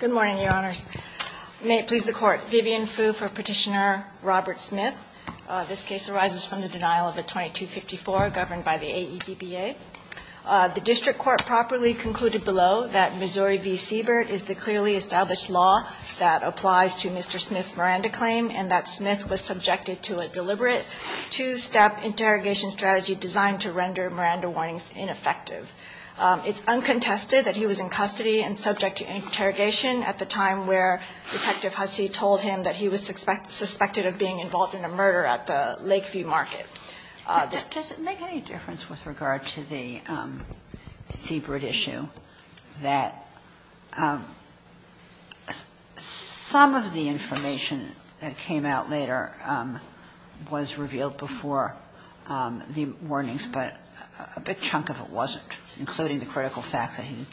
Good morning, Your Honors. May it please the Court, Vivian Fu for Petitioner Robert Smith. This case arises from the denial of a 2254 governed by the AEDBA. The District Court properly concluded below that Missouri v. Siebert is the clearly established law that applies to Mr. Smith's Miranda claim and that Smith was subjected to a deliberate two-step interrogation strategy designed to render Miranda warnings ineffective. It's uncontested that he was in custody and subject to interrogation at the time where Detective Hussey told him that he was suspected of being involved in a murder at the Lakeview Market. Does it make any difference with regard to the Siebert issue that some of the information that came out later was revealed before the warnings, but a big chunk of it wasn't, including the critical fact that he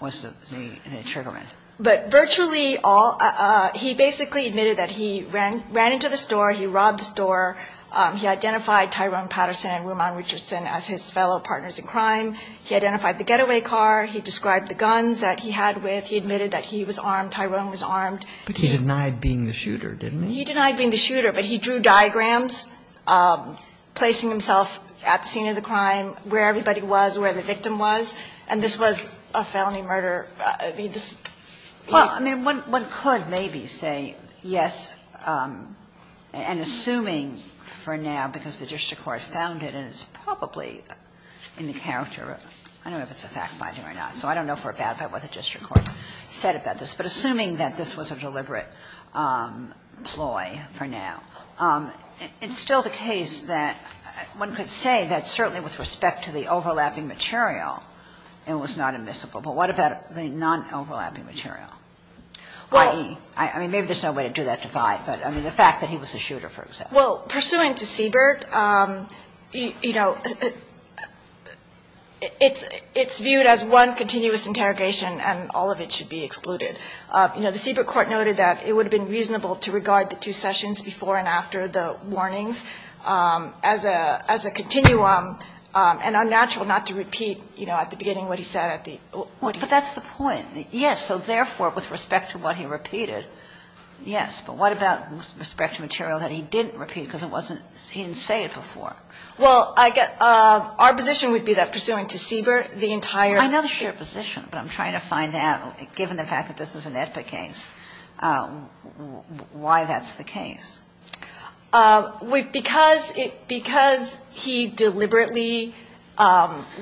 was the trigger man? But virtually all, he basically admitted that he ran into the store, he robbed the store, he identified Tyrone Patterson and Rumaan Richardson as his fellow partners in crime, he identified the getaway car, he described the guns that he had with, he admitted that he was armed, Tyrone was armed. But he denied being the shooter, didn't he? He denied being the shooter, but he drew diagrams placing himself at the scene of the crime, where everybody was, where the victim was, and this was a felony murder. I mean, this. Kagan. Well, I mean, one could maybe say yes, and assuming for now, because the district court found it and it's probably in the character of, I don't know if it's a fact-finding or not, so I don't know for a fact what the district court said about this, but assuming that this was a deliberate ploy for now, it's still the case that one could say that he was the shooter and was not admissible. But what about the non-overlapping material, i.e., I mean, maybe there's no way to do that divide, but I mean, the fact that he was the shooter, for example. Well, pursuant to Siebert, you know, it's viewed as one continuous interrogation and all of it should be excluded. You know, the Siebert court noted that it would have been reasonable to regard the two sessions before and after the warnings as a continuum and unnatural not to repeat, you know, at the beginning what he said at the point. But that's the point. Yes. So therefore, with respect to what he repeated, yes. But what about with respect to material that he didn't repeat because it wasn't he didn't say it before? Well, our position would be that pursuant to Siebert, the entire ---- I know the shared position, but I'm trying to find out, given the fact that this is an AEDPA case, why that's the case. Because he deliberately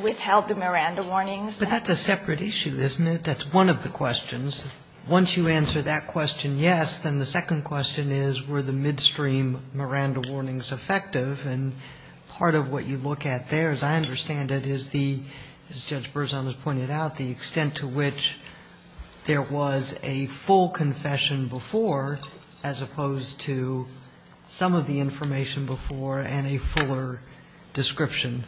withheld the Miranda warnings. But that's a separate issue, isn't it? That's one of the questions. Once you answer that question, yes, then the second question is were the midstream Miranda warnings effective? And part of what you look at there, as I understand it, is the, as Judge Berzon has pointed out, the extent to which there was a full confession before as opposed to some of the information before and a fuller description,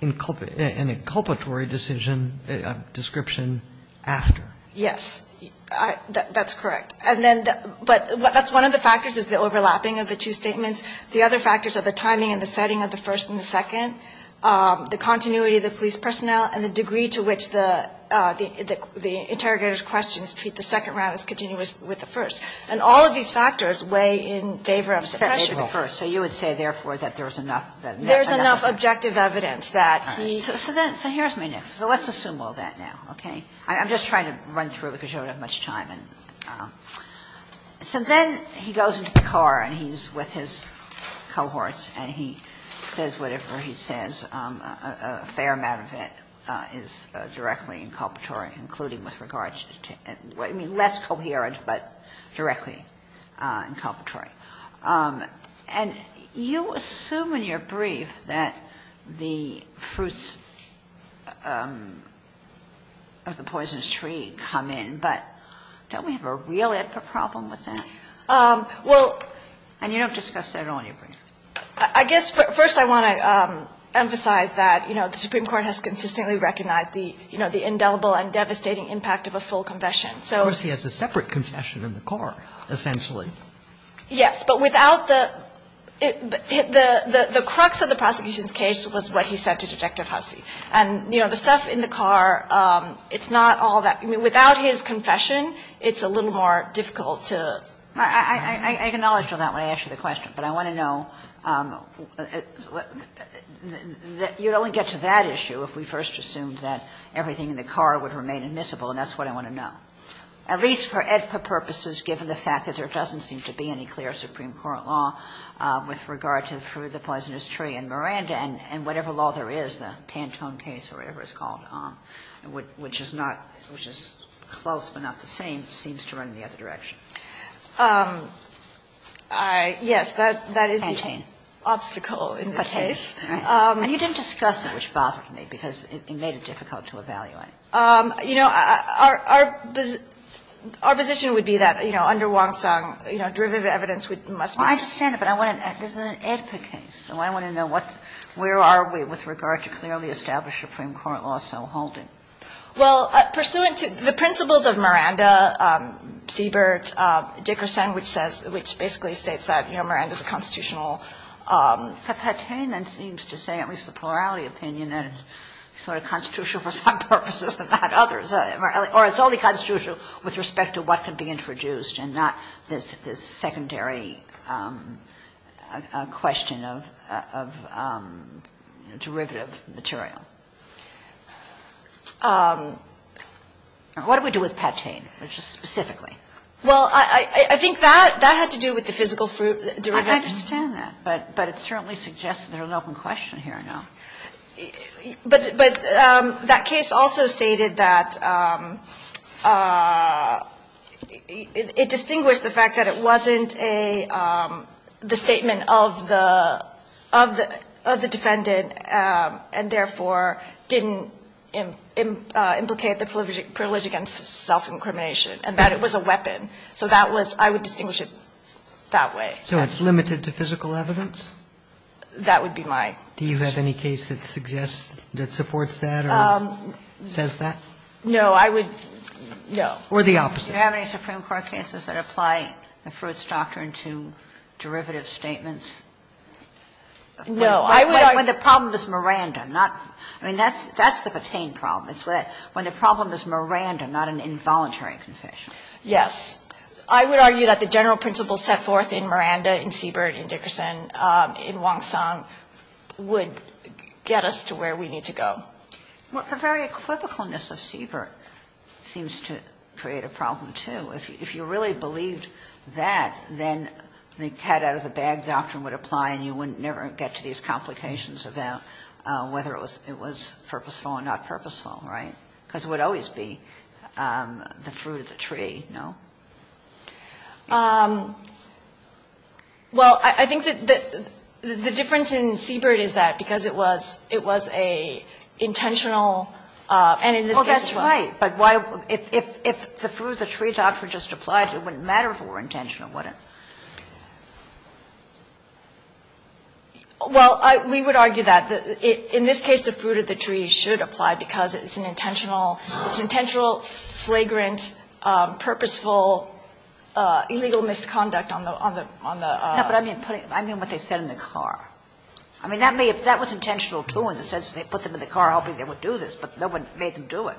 an inculpatory decision, a description after. Yes. That's correct. And then, but that's one of the factors is the overlapping of the two statements. The other factors are the timing and the setting of the first and the second, the continuity of the police personnel, and the degree to which the interrogator's questions treat the second round as continuous with the first. And all of these factors weigh in favor of suppression of the first. So you would say, therefore, that there was enough ---- There's enough objective evidence that he ---- So then, so here's my next. So let's assume all that now, okay? I'm just trying to run through it because you don't have much time. And so then he goes into the car and he's with his cohorts and he says whatever he says, a fair amount of it is directly inculpatory, including with regards to ---- I mean, less coherent, but directly inculpatory. And you assume in your brief that the fruits of the Poisonous Tree come in, but don't we have a real ethical problem with that? Well, and you don't discuss that at all in your brief. I guess first I want to emphasize that, you know, the Supreme Court has consistently recognized the, you know, the indelible and devastating impact of a full confession. So ---- Of course, he has a separate confession in the car, essentially. Yes. But without the ---- the crux of the prosecution's case was what he said to Detective Hussey. And, you know, the stuff in the car, it's not all that ---- I mean, without his confession, it's a little more difficult to ---- I acknowledged on that when I asked you the question, but I want to know, you'd only get to that issue if we first assumed that everything in the car would remain admissible, and that's what I want to know, at least for EDPA purposes, given the fact that there doesn't seem to be any clear Supreme Court law with regard to the fruit of the Poisonous Tree. And Miranda and whatever law there is, the Pantone case or whatever it's called, which is not ---- which is close but not the same, seems to run in the other direction. Yes, that is the obstacle in this case. And you didn't discuss it, which bothered me, because it made it difficult to evaluate. You know, our position would be that, you know, under Wong-Sung, you know, derivative evidence must be ---- I understand it, but I want to ---- this is an EDPA case, so I want to know what Where are we with regard to clearly established Supreme Court law so holding? Well, pursuant to the principles of Miranda, Siebert, Dickerson, which says ---- which basically states that, you know, Miranda is a constitutional ---- But Pantone then seems to say, at least the plurality opinion, that it's sort of constitutional for some purposes and not others. Or it's only constitutional with respect to what could be introduced and not this secondary question of, you know, derivative material. What do we do with Pantone, just specifically? Well, I think that had to do with the physical fruit derivative. I understand that, but it certainly suggests there's an open question here now. But that case also stated that it distinguished the fact that it wasn't a ---- the statement of the defendant and, therefore, didn't implicate the privilege against self-incrimination and that it was a weapon. So that was ---- I would distinguish it that way. So it's limited to physical evidence? That would be my ---- Do you have any case that suggests ---- that supports that or says that? No, I would ---- No. Or the opposite? Do you have any Supreme Court cases that apply the Fruits Doctrine to derivative statements? No. I would argue ---- When the problem is Miranda, not ---- I mean, that's the Petain problem. It's when the problem is Miranda, not an involuntary confession. Yes. I would argue that the general principle set forth in Miranda, in Siebert, in Dickerson, in Wong-Song, would get us to where we need to go. Well, the very equivocalness of Siebert seems to create a problem, too. If you really believed that, then the cat out of the bag doctrine would apply and you would never get to these complications about whether it was purposeful or not purposeful, right? Because it would always be the fruit of the tree, no? Well, I think that the difference in Siebert is that because it was ---- it was an intentional, and in this case as well. Well, that's right. But why ---- if the fruit of the tree doctrine just applied, it wouldn't matter if it were intentional, would it? Well, we would argue that. In this case, the fruit of the tree should apply because it's an intentional ---- it's an intentional, flagrant, purposeful, illegal misconduct on the ---- No, but I mean what they said in the car. I mean, that was intentional, too, in the sense that they put them in the car hoping they would do this, but no one made them do it.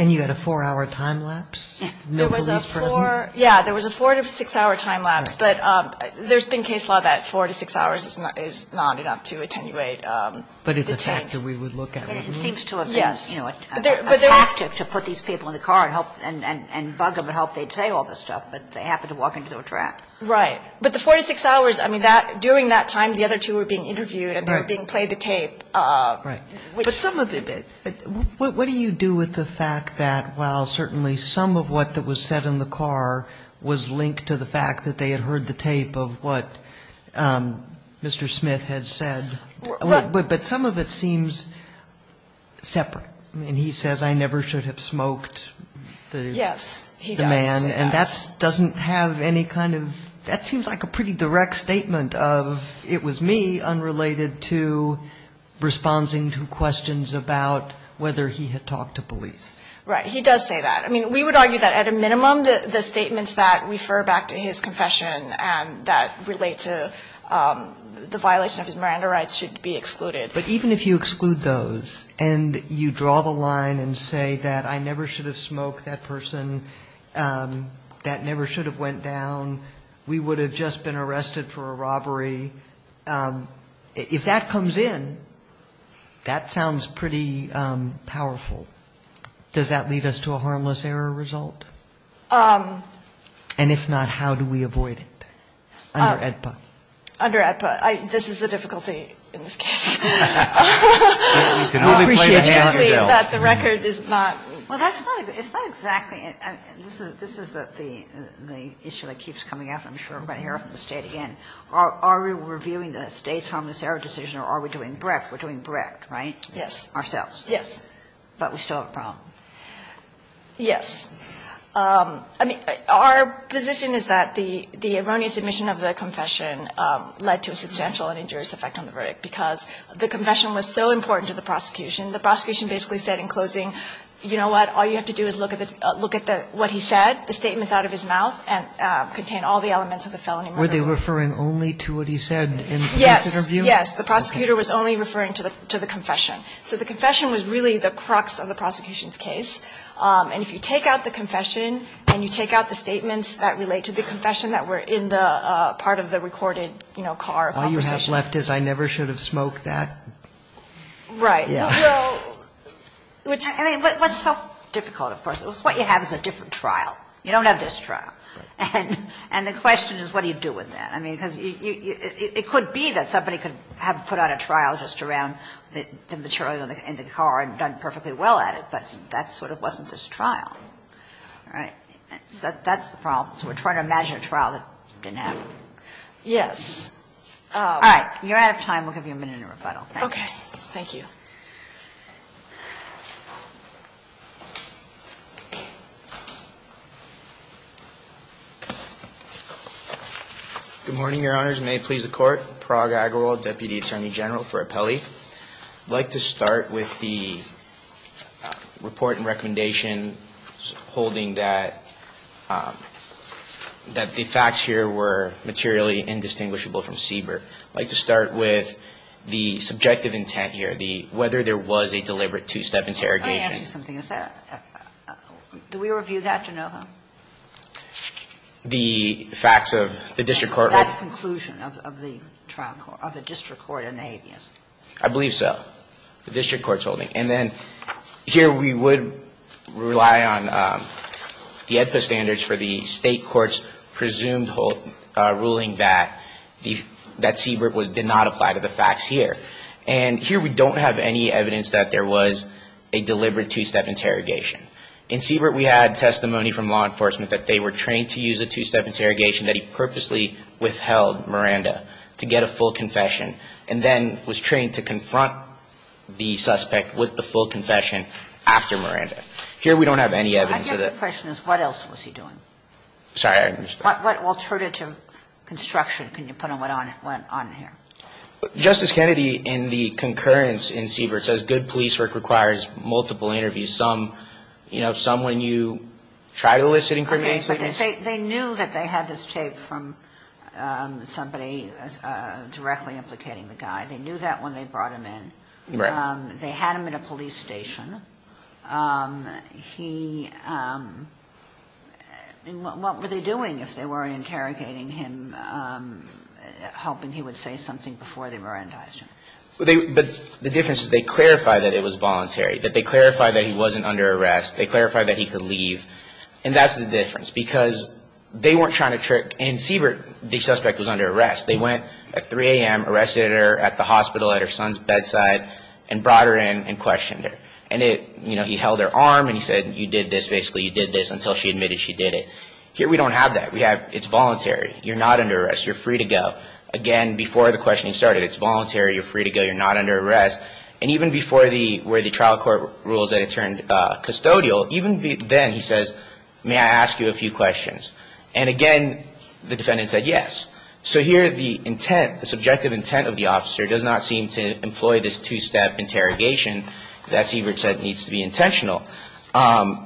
And you had a 4-hour time lapse? There was a 4 to 6-hour time lapse, but there's been case law that 4 to 6 hours is not enough to attenuate the 10. But it's a factor we would look at. It seems to have been, you know, a tactic to put these people in the car and bug them and hope they'd say all this stuff, but they happened to walk into a trap. Right. But the 4 to 6 hours, I mean, that ---- during that time, the other two were being interviewed and they were being played to tape. Right. But some of it ---- What do you do with the fact that while certainly some of what was said in the car was linked to the fact that they had heard the tape of what Mr. Smith had said, but some of it seems separate. I mean, he says, I never should have smoked the man. Yes, he does. And that doesn't have any kind of ---- that seems like a pretty direct statement of, it was me, unrelated to responding to questions about whether he had talked to police. Right. He does say that. I mean, we would argue that at a minimum the statements that refer back to his But even if you exclude those and you draw the line and say that I never should have smoked that person, that never should have went down, we would have just been arrested for a robbery, if that comes in, that sounds pretty powerful. Does that lead us to a harmless error result? And if not, how do we avoid it under AEDPA? Under AEDPA. This is the difficulty in this case. We can only play the hand that dealt. We appreciate that the record is not ---- Well, it's not exactly. This is the issue that keeps coming up. I'm sure we're going to hear it from the State again. Are we reviewing the State's harmless error decision or are we doing Brecht? We're doing Brecht, right? Yes. Ourselves. Yes. But we still have a problem. Yes. I mean, our position is that the erroneous admission of the confession led to a substantial and injurious effect on the verdict because the confession was so important to the prosecution. The prosecution basically said in closing, you know what, all you have to do is look at what he said, the statements out of his mouth, and contain all the elements of the felony murder. Were they referring only to what he said in this interview? Yes. Yes. The prosecutor was only referring to the confession. So the confession was really the crux of the prosecution's case. And if you take out the confession and you take out the statements that relate to the confession that were in the part of the recorded, you know, car conversation. All you have left is, I never should have smoked that. Right. Yeah. Which so difficult, of course. What you have is a different trial. You don't have this trial. Right. And the question is, what do you do with that? I mean, because it could be that somebody could have put out a trial just around the material in the car and done perfectly well at it. But that sort of wasn't this trial. Right. So that's the problem. So we're trying to imagine a trial that didn't happen. Yes. All right. You're out of time. We'll give you a minute and a rebuttal. Okay. Thank you. Good morning, Your Honors. May it please the Court. Prague Agarwal, Deputy Attorney General for Appelli. I'd like to start with the report and recommendation holding that the facts here were materially indistinguishable from Siebert. I'd like to start with the subjective intent here, the whether there was a deliberate two-step interrogation. Let me ask you something. Is that a – do we review that to know how? The facts of the district court. That's the conclusion of the district court in the habeas. I believe so. The district court's holding. And then here we would rely on the AEDPA standards for the State court's presumed ruling that Siebert did not apply to the facts here. And here we don't have any evidence that there was a deliberate two-step interrogation. In Siebert we had testimony from law enforcement that they were trained to use a two-step interrogation, that he purposely withheld Miranda to get a full confession, and then was trained to confront the suspect with the full confession after Miranda. Here we don't have any evidence of the – My question is what else was he doing? Sorry, I missed that. What alternative construction can you put on here? Justice Kennedy in the concurrence in Siebert says good police work requires multiple interviews, some, you know, some when you try to elicit incriminating statements. They knew that they had this tape from somebody directly implicating the guy. They knew that when they brought him in. Right. They had him in a police station. He – what were they doing if they weren't interrogating him, hoping he would say something before they Mirandized him? But the difference is they clarified that it was voluntary, that they clarified that he wasn't under arrest. They clarified that he could leave. And that's the difference because they weren't trying to trick – and Siebert, the suspect, was under arrest. They went at 3 a.m., arrested her at the hospital at her son's bedside, and brought her in and questioned her. And it – you know, he held her arm and he said, you did this, basically, you did this until she admitted she did it. Here we don't have that. We have it's voluntary. You're not under arrest. You're free to go. Again, before the questioning started, it's voluntary. You're free to go. You're not under arrest. And even before the – where the trial court rules that he turned custodial, even then he says, may I ask you a few questions? And again, the defendant said yes. So here the intent, the subjective intent of the officer does not seem to employ this two-step interrogation that Siebert said needs to be intentional. And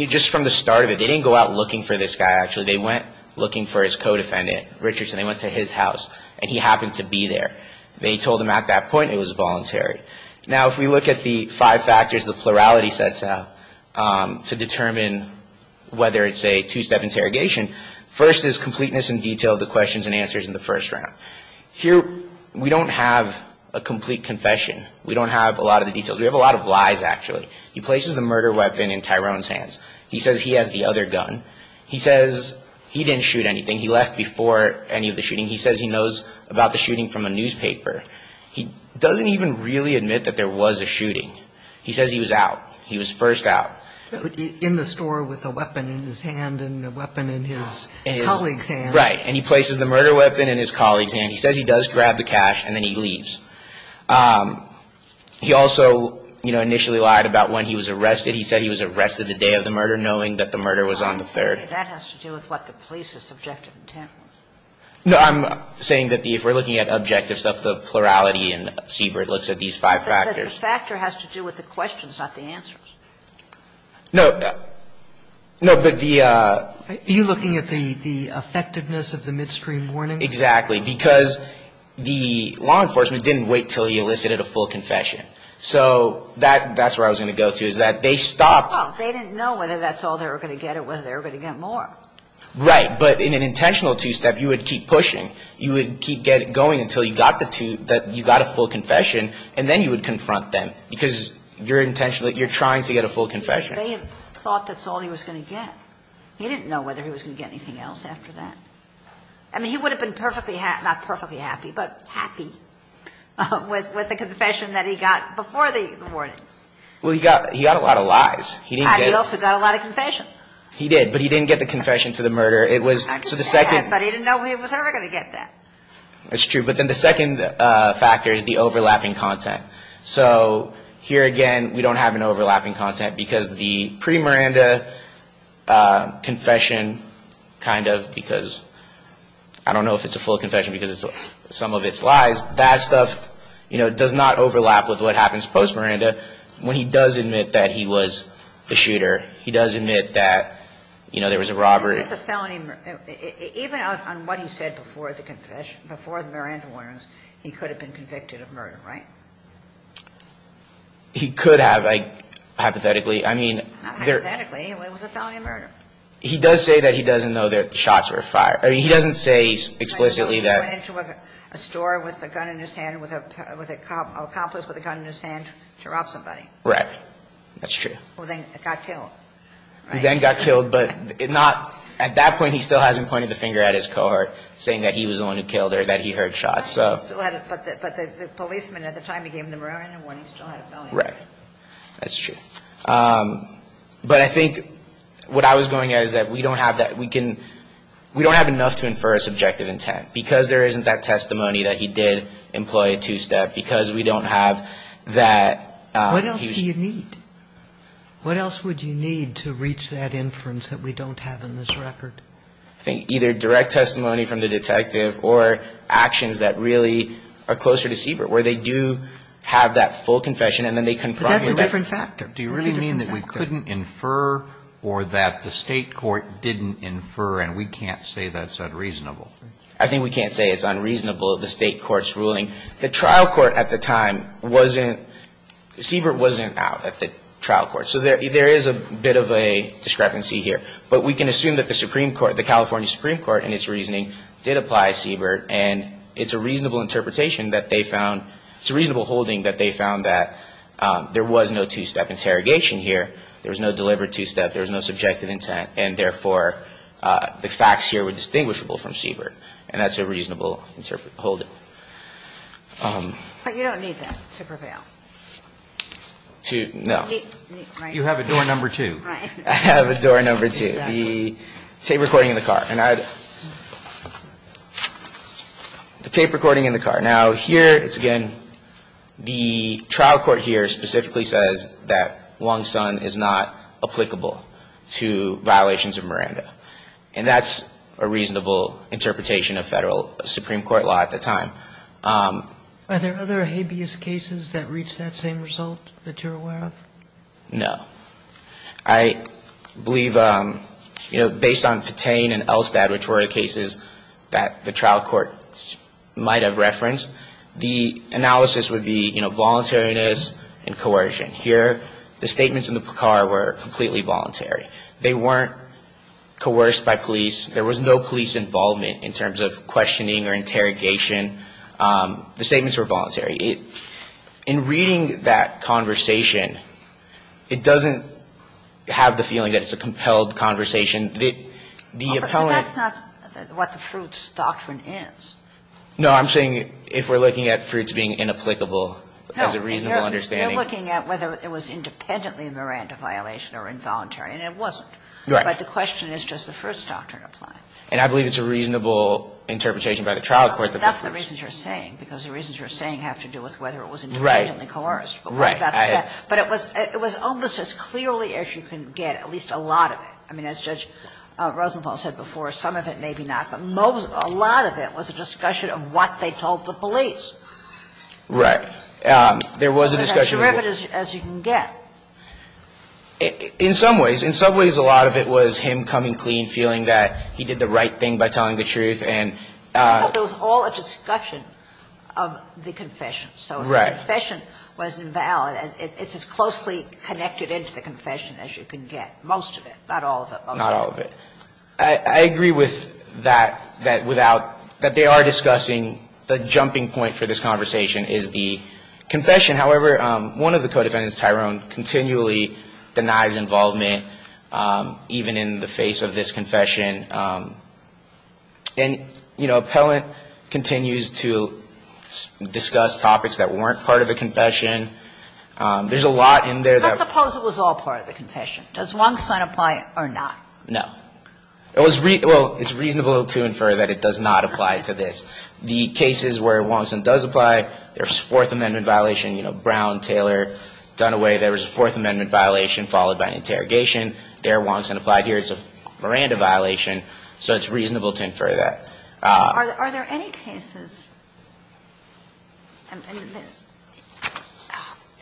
you – just from the start of it, they didn't go out looking for this guy, actually. They went looking for his co-defendant, Richardson. They went to his house, and he happened to be there. They told him at that point it was voluntary. Now, if we look at the five factors the plurality sets out to determine whether it's a two-step interrogation, first is completeness and detail of the questions and answers in the first round. Here we don't have a complete confession. We don't have a lot of the details. We have a lot of lies, actually. He places the murder weapon in Tyrone's hands. He says he has the other gun. He says he didn't shoot anything. He left before any of the shooting. He says he knows about the shooting from a newspaper. He doesn't even really admit that there was a shooting. He says he was out. He was first out. In the store with a weapon in his hand and a weapon in his colleague's hand. Right. And he places the murder weapon in his colleague's hand. He says he does grab the cash, and then he leaves. He also, you know, initially lied about when he was arrested. He said he was arrested the day of the murder, knowing that the murder was on the 3rd. That has to do with what the police's subjective intent was. No, I'm saying that if we're looking at objective stuff, the plurality in Siebert looks at these five factors. But the factor has to do with the questions, not the answers. No. No, but the ---- Are you looking at the effectiveness of the midstream warnings? Exactly, because the law enforcement didn't wait until he elicited a full confession. So that's where I was going to go to, is that they stopped ---- Well, they didn't know whether that's all they were going to get or whether they were going to get more. Right. But in an intentional two-step, you would keep pushing. You would keep going until you got the two ---- you got a full confession, and then you would confront them, because you're intentionally ---- you're trying to get a full confession. They thought that's all he was going to get. He didn't know whether he was going to get anything else after that. I mean, he would have been perfectly ---- not perfectly happy, but happy with the confession that he got before the warnings. Well, he got a lot of lies. He also got a lot of confession. He did. But he didn't get the confession to the murder. It was ---- I just said that, but he didn't know he was ever going to get that. That's true. But then the second factor is the overlapping content. So here again, we don't have an overlapping content, because the pre-Miranda confession kind of because ---- I don't know if it's a full confession because some of it's lies. That stuff, you know, does not overlap with what happens post-Miranda when he does admit that he was the shooter. He does admit that, you know, there was a robbery. Even on what he said before the confession, before the Miranda warnings, he could have been convicted of murder, right? He could have, like, hypothetically. I mean, there ---- Not hypothetically. It was a felony murder. He does say that he doesn't know that the shots were fired. I mean, he doesn't say explicitly that ---- He went into a store with a gun in his hand, with an accomplice with a gun in his hand to rob somebody. Right. That's true. Who then got killed, right? Who then got killed, but not ---- at that point, he still hasn't pointed the finger at his cohort saying that he was the one who killed her, that he heard shots. But the policeman at the time he gave him the Miranda warning still had a felony. Right. That's true. But I think what I was going at is that we don't have that ---- we can ---- we don't have enough to infer a subjective intent, because there isn't that testimony that he did employ a two-step, because we don't have that ---- What else do you need? What else would you need to reach that inference that we don't have in this record? I think either direct testimony from the detective or actions that really are closer to Siebert, where they do have that full confession and then they confront him with that. But that's a different factor. Do you really mean that we couldn't infer or that the State court didn't infer and we can't say that's unreasonable? I think we can't say it's unreasonable, the State court's ruling. The trial court at the time wasn't ---- Siebert wasn't out at the trial court. So there is a bit of a discrepancy here. But we can assume that the Supreme Court, the California Supreme Court, in its reasoning, did apply Siebert. And it's a reasonable interpretation that they found ---- it's a reasonable holding that they found that there was no two-step interrogation here. There was no delivered two-step. There was no subjective intent. And, therefore, the facts here were distinguishable from Siebert. And that's a reasonable holding. But you don't need that to prevail. To no. You have a door number two. I have a door number two. The tape recording in the car. And I ---- the tape recording in the car. Now, here it's again the trial court here specifically says that Wong-Sun is not applicable to violations of Miranda. And that's a reasonable interpretation of Federal Supreme Court law at the time. Are there other habeas cases that reach that same result that you're aware of? No. I believe, you know, based on Patain and Elstad, which were the cases that the trial court might have referenced, the analysis would be, you know, voluntariness and coercion. Here, the statements in the car were completely voluntary. They weren't coerced by police. There was no police involvement in terms of questioning or interrogation. The statements were voluntary. In reading that conversation, it doesn't have the feeling that it's a compelled conversation. The appellant ---- But that's not what the Fruits Doctrine is. No. I'm saying if we're looking at Fruits being inapplicable as a reasonable understanding We're looking at whether it was independently a Miranda violation or involuntary. And it wasn't. Right. But the question is, does the Fruits Doctrine apply? And I believe it's a reasonable interpretation by the trial court that the Fruits No. That's the reasons you're saying, because the reasons you're saying have to do with whether it was independently coerced. Right. But it was almost as clearly as you can get, at least a lot of it. I mean, as Judge Rosenthal said before, some of it, maybe not, but most of it, a lot of it was a discussion of what they told the police. Right. There was a discussion. But that's as direct as you can get. In some ways. In some ways, a lot of it was him coming clean, feeling that he did the right thing by telling the truth. And ---- But it was all a discussion of the confession. Right. So if the confession was invalid, it's as closely connected into the confession as you can get. Most of it. Not all of it. Not all of it. I agree with that, that without ---- that they are discussing the jumping point for this conversation is the confession. However, one of the co-defendants, Tyrone, continually denies involvement even in the face of this confession. And, you know, appellant continues to discuss topics that weren't part of the confession. There's a lot in there that ---- Let's suppose it was all part of the confession. Does Wong-Sun apply or not? No. It was ---- well, it's reasonable to infer that it does not apply to this. The cases where Wong-Sun does apply, there's a Fourth Amendment violation. You know, Brown, Taylor, Dunaway, there was a Fourth Amendment violation followed by an interrogation. There, Wong-Sun applied here. It's a Miranda violation. So it's reasonable to infer that. Are there any cases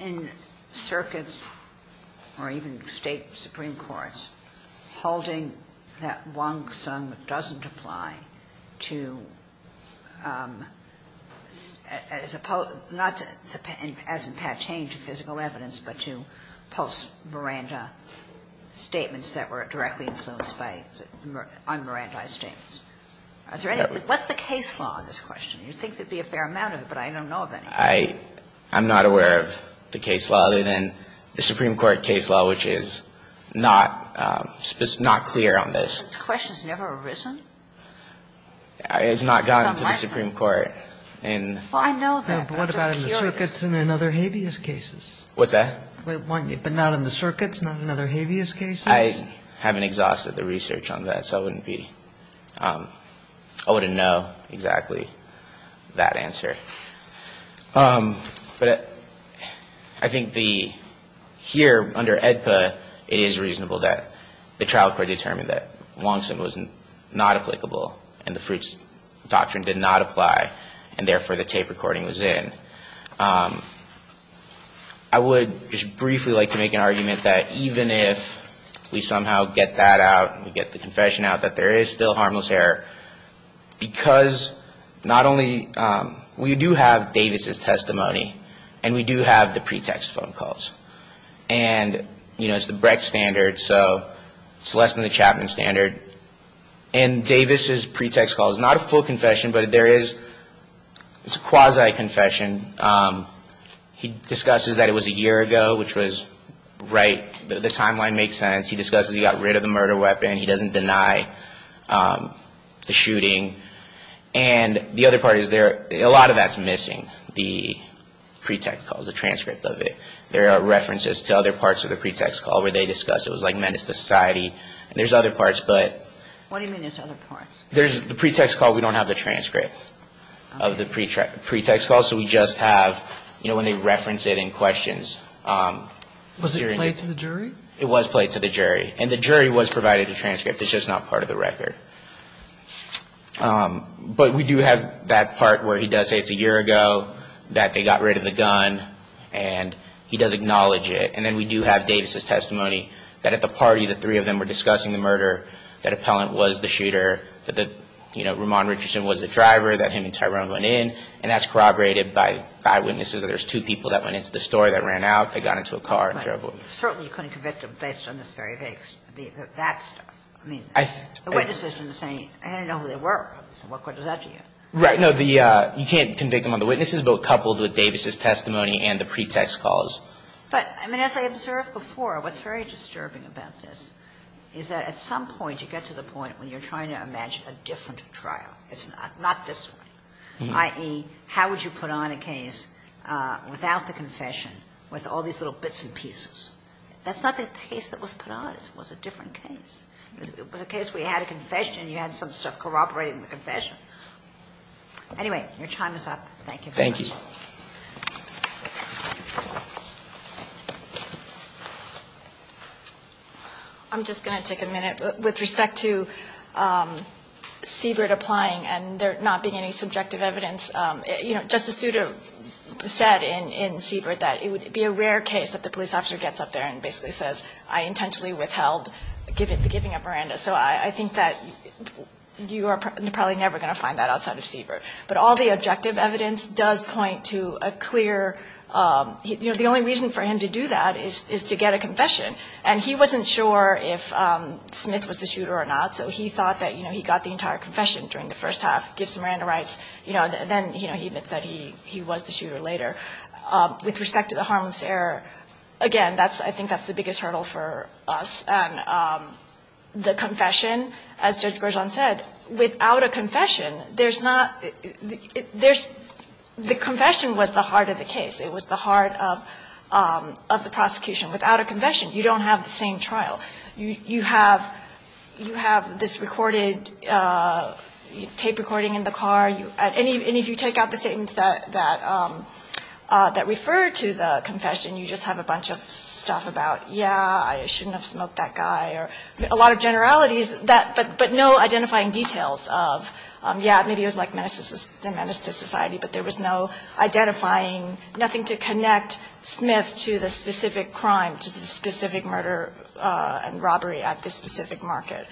in circuits or even State supreme courts holding that Wong-Sun doesn't apply to as opposed to, not as in Pat Chaney to physical evidence, but to post-Miranda statements that were directly influenced by un-Miranda statements? Are there any? What's the case law on this question? You'd think there'd be a fair amount of it, but I don't know of any. I'm not aware of the case law other than the Supreme Court case law, which is not clear on this. The question's never arisen. It's not gotten to the Supreme Court. Well, I know that. But what about in the circuits and in other habeas cases? What's that? But not in the circuits, not in other habeas cases? I haven't exhausted the research on that, so I wouldn't be ---- I wouldn't know exactly that answer. But I think the ---- here, under AEDPA, it is reasonable that the trial court determined that Longston was not applicable, and the Fruits Doctrine did not apply, and therefore the tape recording was in. I would just briefly like to make an argument that even if we somehow get that out, we get the confession out, that there is still harmless error, because not only ---- we do have Davis' testimony, and we do have the pretext phone calls. And, you know, it's the Brecht standard, so it's less than the Chapman standard. And Davis' pretext call is not a full confession, but there is ---- it's a quasi-confession. He discusses that it was a year ago, which was right. The timeline makes sense. He discusses he got rid of the murder weapon. He doesn't deny the shooting. And the other part is there ---- a lot of that's missing, the pretext calls, the transcript of it. There are references to other parts of the pretext call where they discuss it was like menace to society. And there's other parts, but ---- What do you mean there's other parts? There's the pretext call. We don't have the transcript of the pretext call. So we just have, you know, when they reference it in questions. Was it played to the jury? It was played to the jury. And the jury was provided a transcript. It's just not part of the record. But we do have that part where he does say it's a year ago, that they got rid of the murder weapon. And he does acknowledge it. And then we do have Davis' testimony that at the party the three of them were discussing the murder, that Appellant was the shooter, that, you know, Ramon Richardson was the driver, that him and Tyrone went in. And that's corroborated by eyewitnesses that there's two people that went into the store that ran out. They got into a car and drove away. But certainly you couldn't convict them based on this very vague ---- that stuff. I mean, the witnesses are saying, I didn't know who they were. So what good does that do you? Right. No, you can't convict them on the witnesses, but coupled with Davis' testimony and the pretext calls. But, I mean, as I observed before, what's very disturbing about this is that at some point you get to the point where you're trying to imagine a different trial. It's not this one, i.e., how would you put on a case without the confession, with all these little bits and pieces? That's not the case that was put on. It was a different case. It was a case where you had a confession and you had some stuff corroborating the confession. Anyway, your time is up. Thank you very much. Thank you. I'm just going to take a minute. With respect to Siebert applying and there not being any subjective evidence, you know, Justice Sotomayor said in Siebert that it would be a rare case that the police officer gets up there and basically says, I intentionally withheld giving up Miranda. So I think that you are probably never going to find that outside of Siebert. But all the objective evidence does point to a clear, you know, the only reason for him to do that is to get a confession. And he wasn't sure if Smith was the shooter or not, so he thought that, you know, he got the entire confession during the first half, gives Miranda rights, you know, and then, you know, he admits that he was the shooter later. With respect to the harmless error, again, I think that's the biggest hurdle for us. And the confession, as Judge Berzon said, without a confession, there's not the confession was the heart of the case. It was the heart of the prosecution. Without a confession, you don't have the same trial. You have this recorded tape recording in the car. And if you take out the statements that refer to the confession, you just have a bunch of stuff about, yeah, I shouldn't have smoked that guy, or a lot of generalities, but no identifying details of, yeah, maybe it was like menace to society, but there was no identifying, nothing to connect Smith to the specific crime, to the specific murder and robbery at the specific market.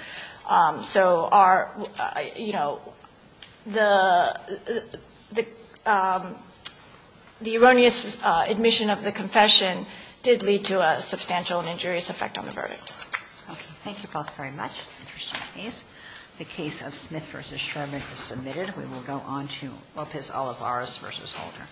So our, you know, the erroneous admission of the confession did lead to a substantial and injurious effect on the verdict. Okay. Thank you both very much. Interesting case. The case of Smith v. Sherman is submitted. We will go on to Lopez-Olivares v. Holder.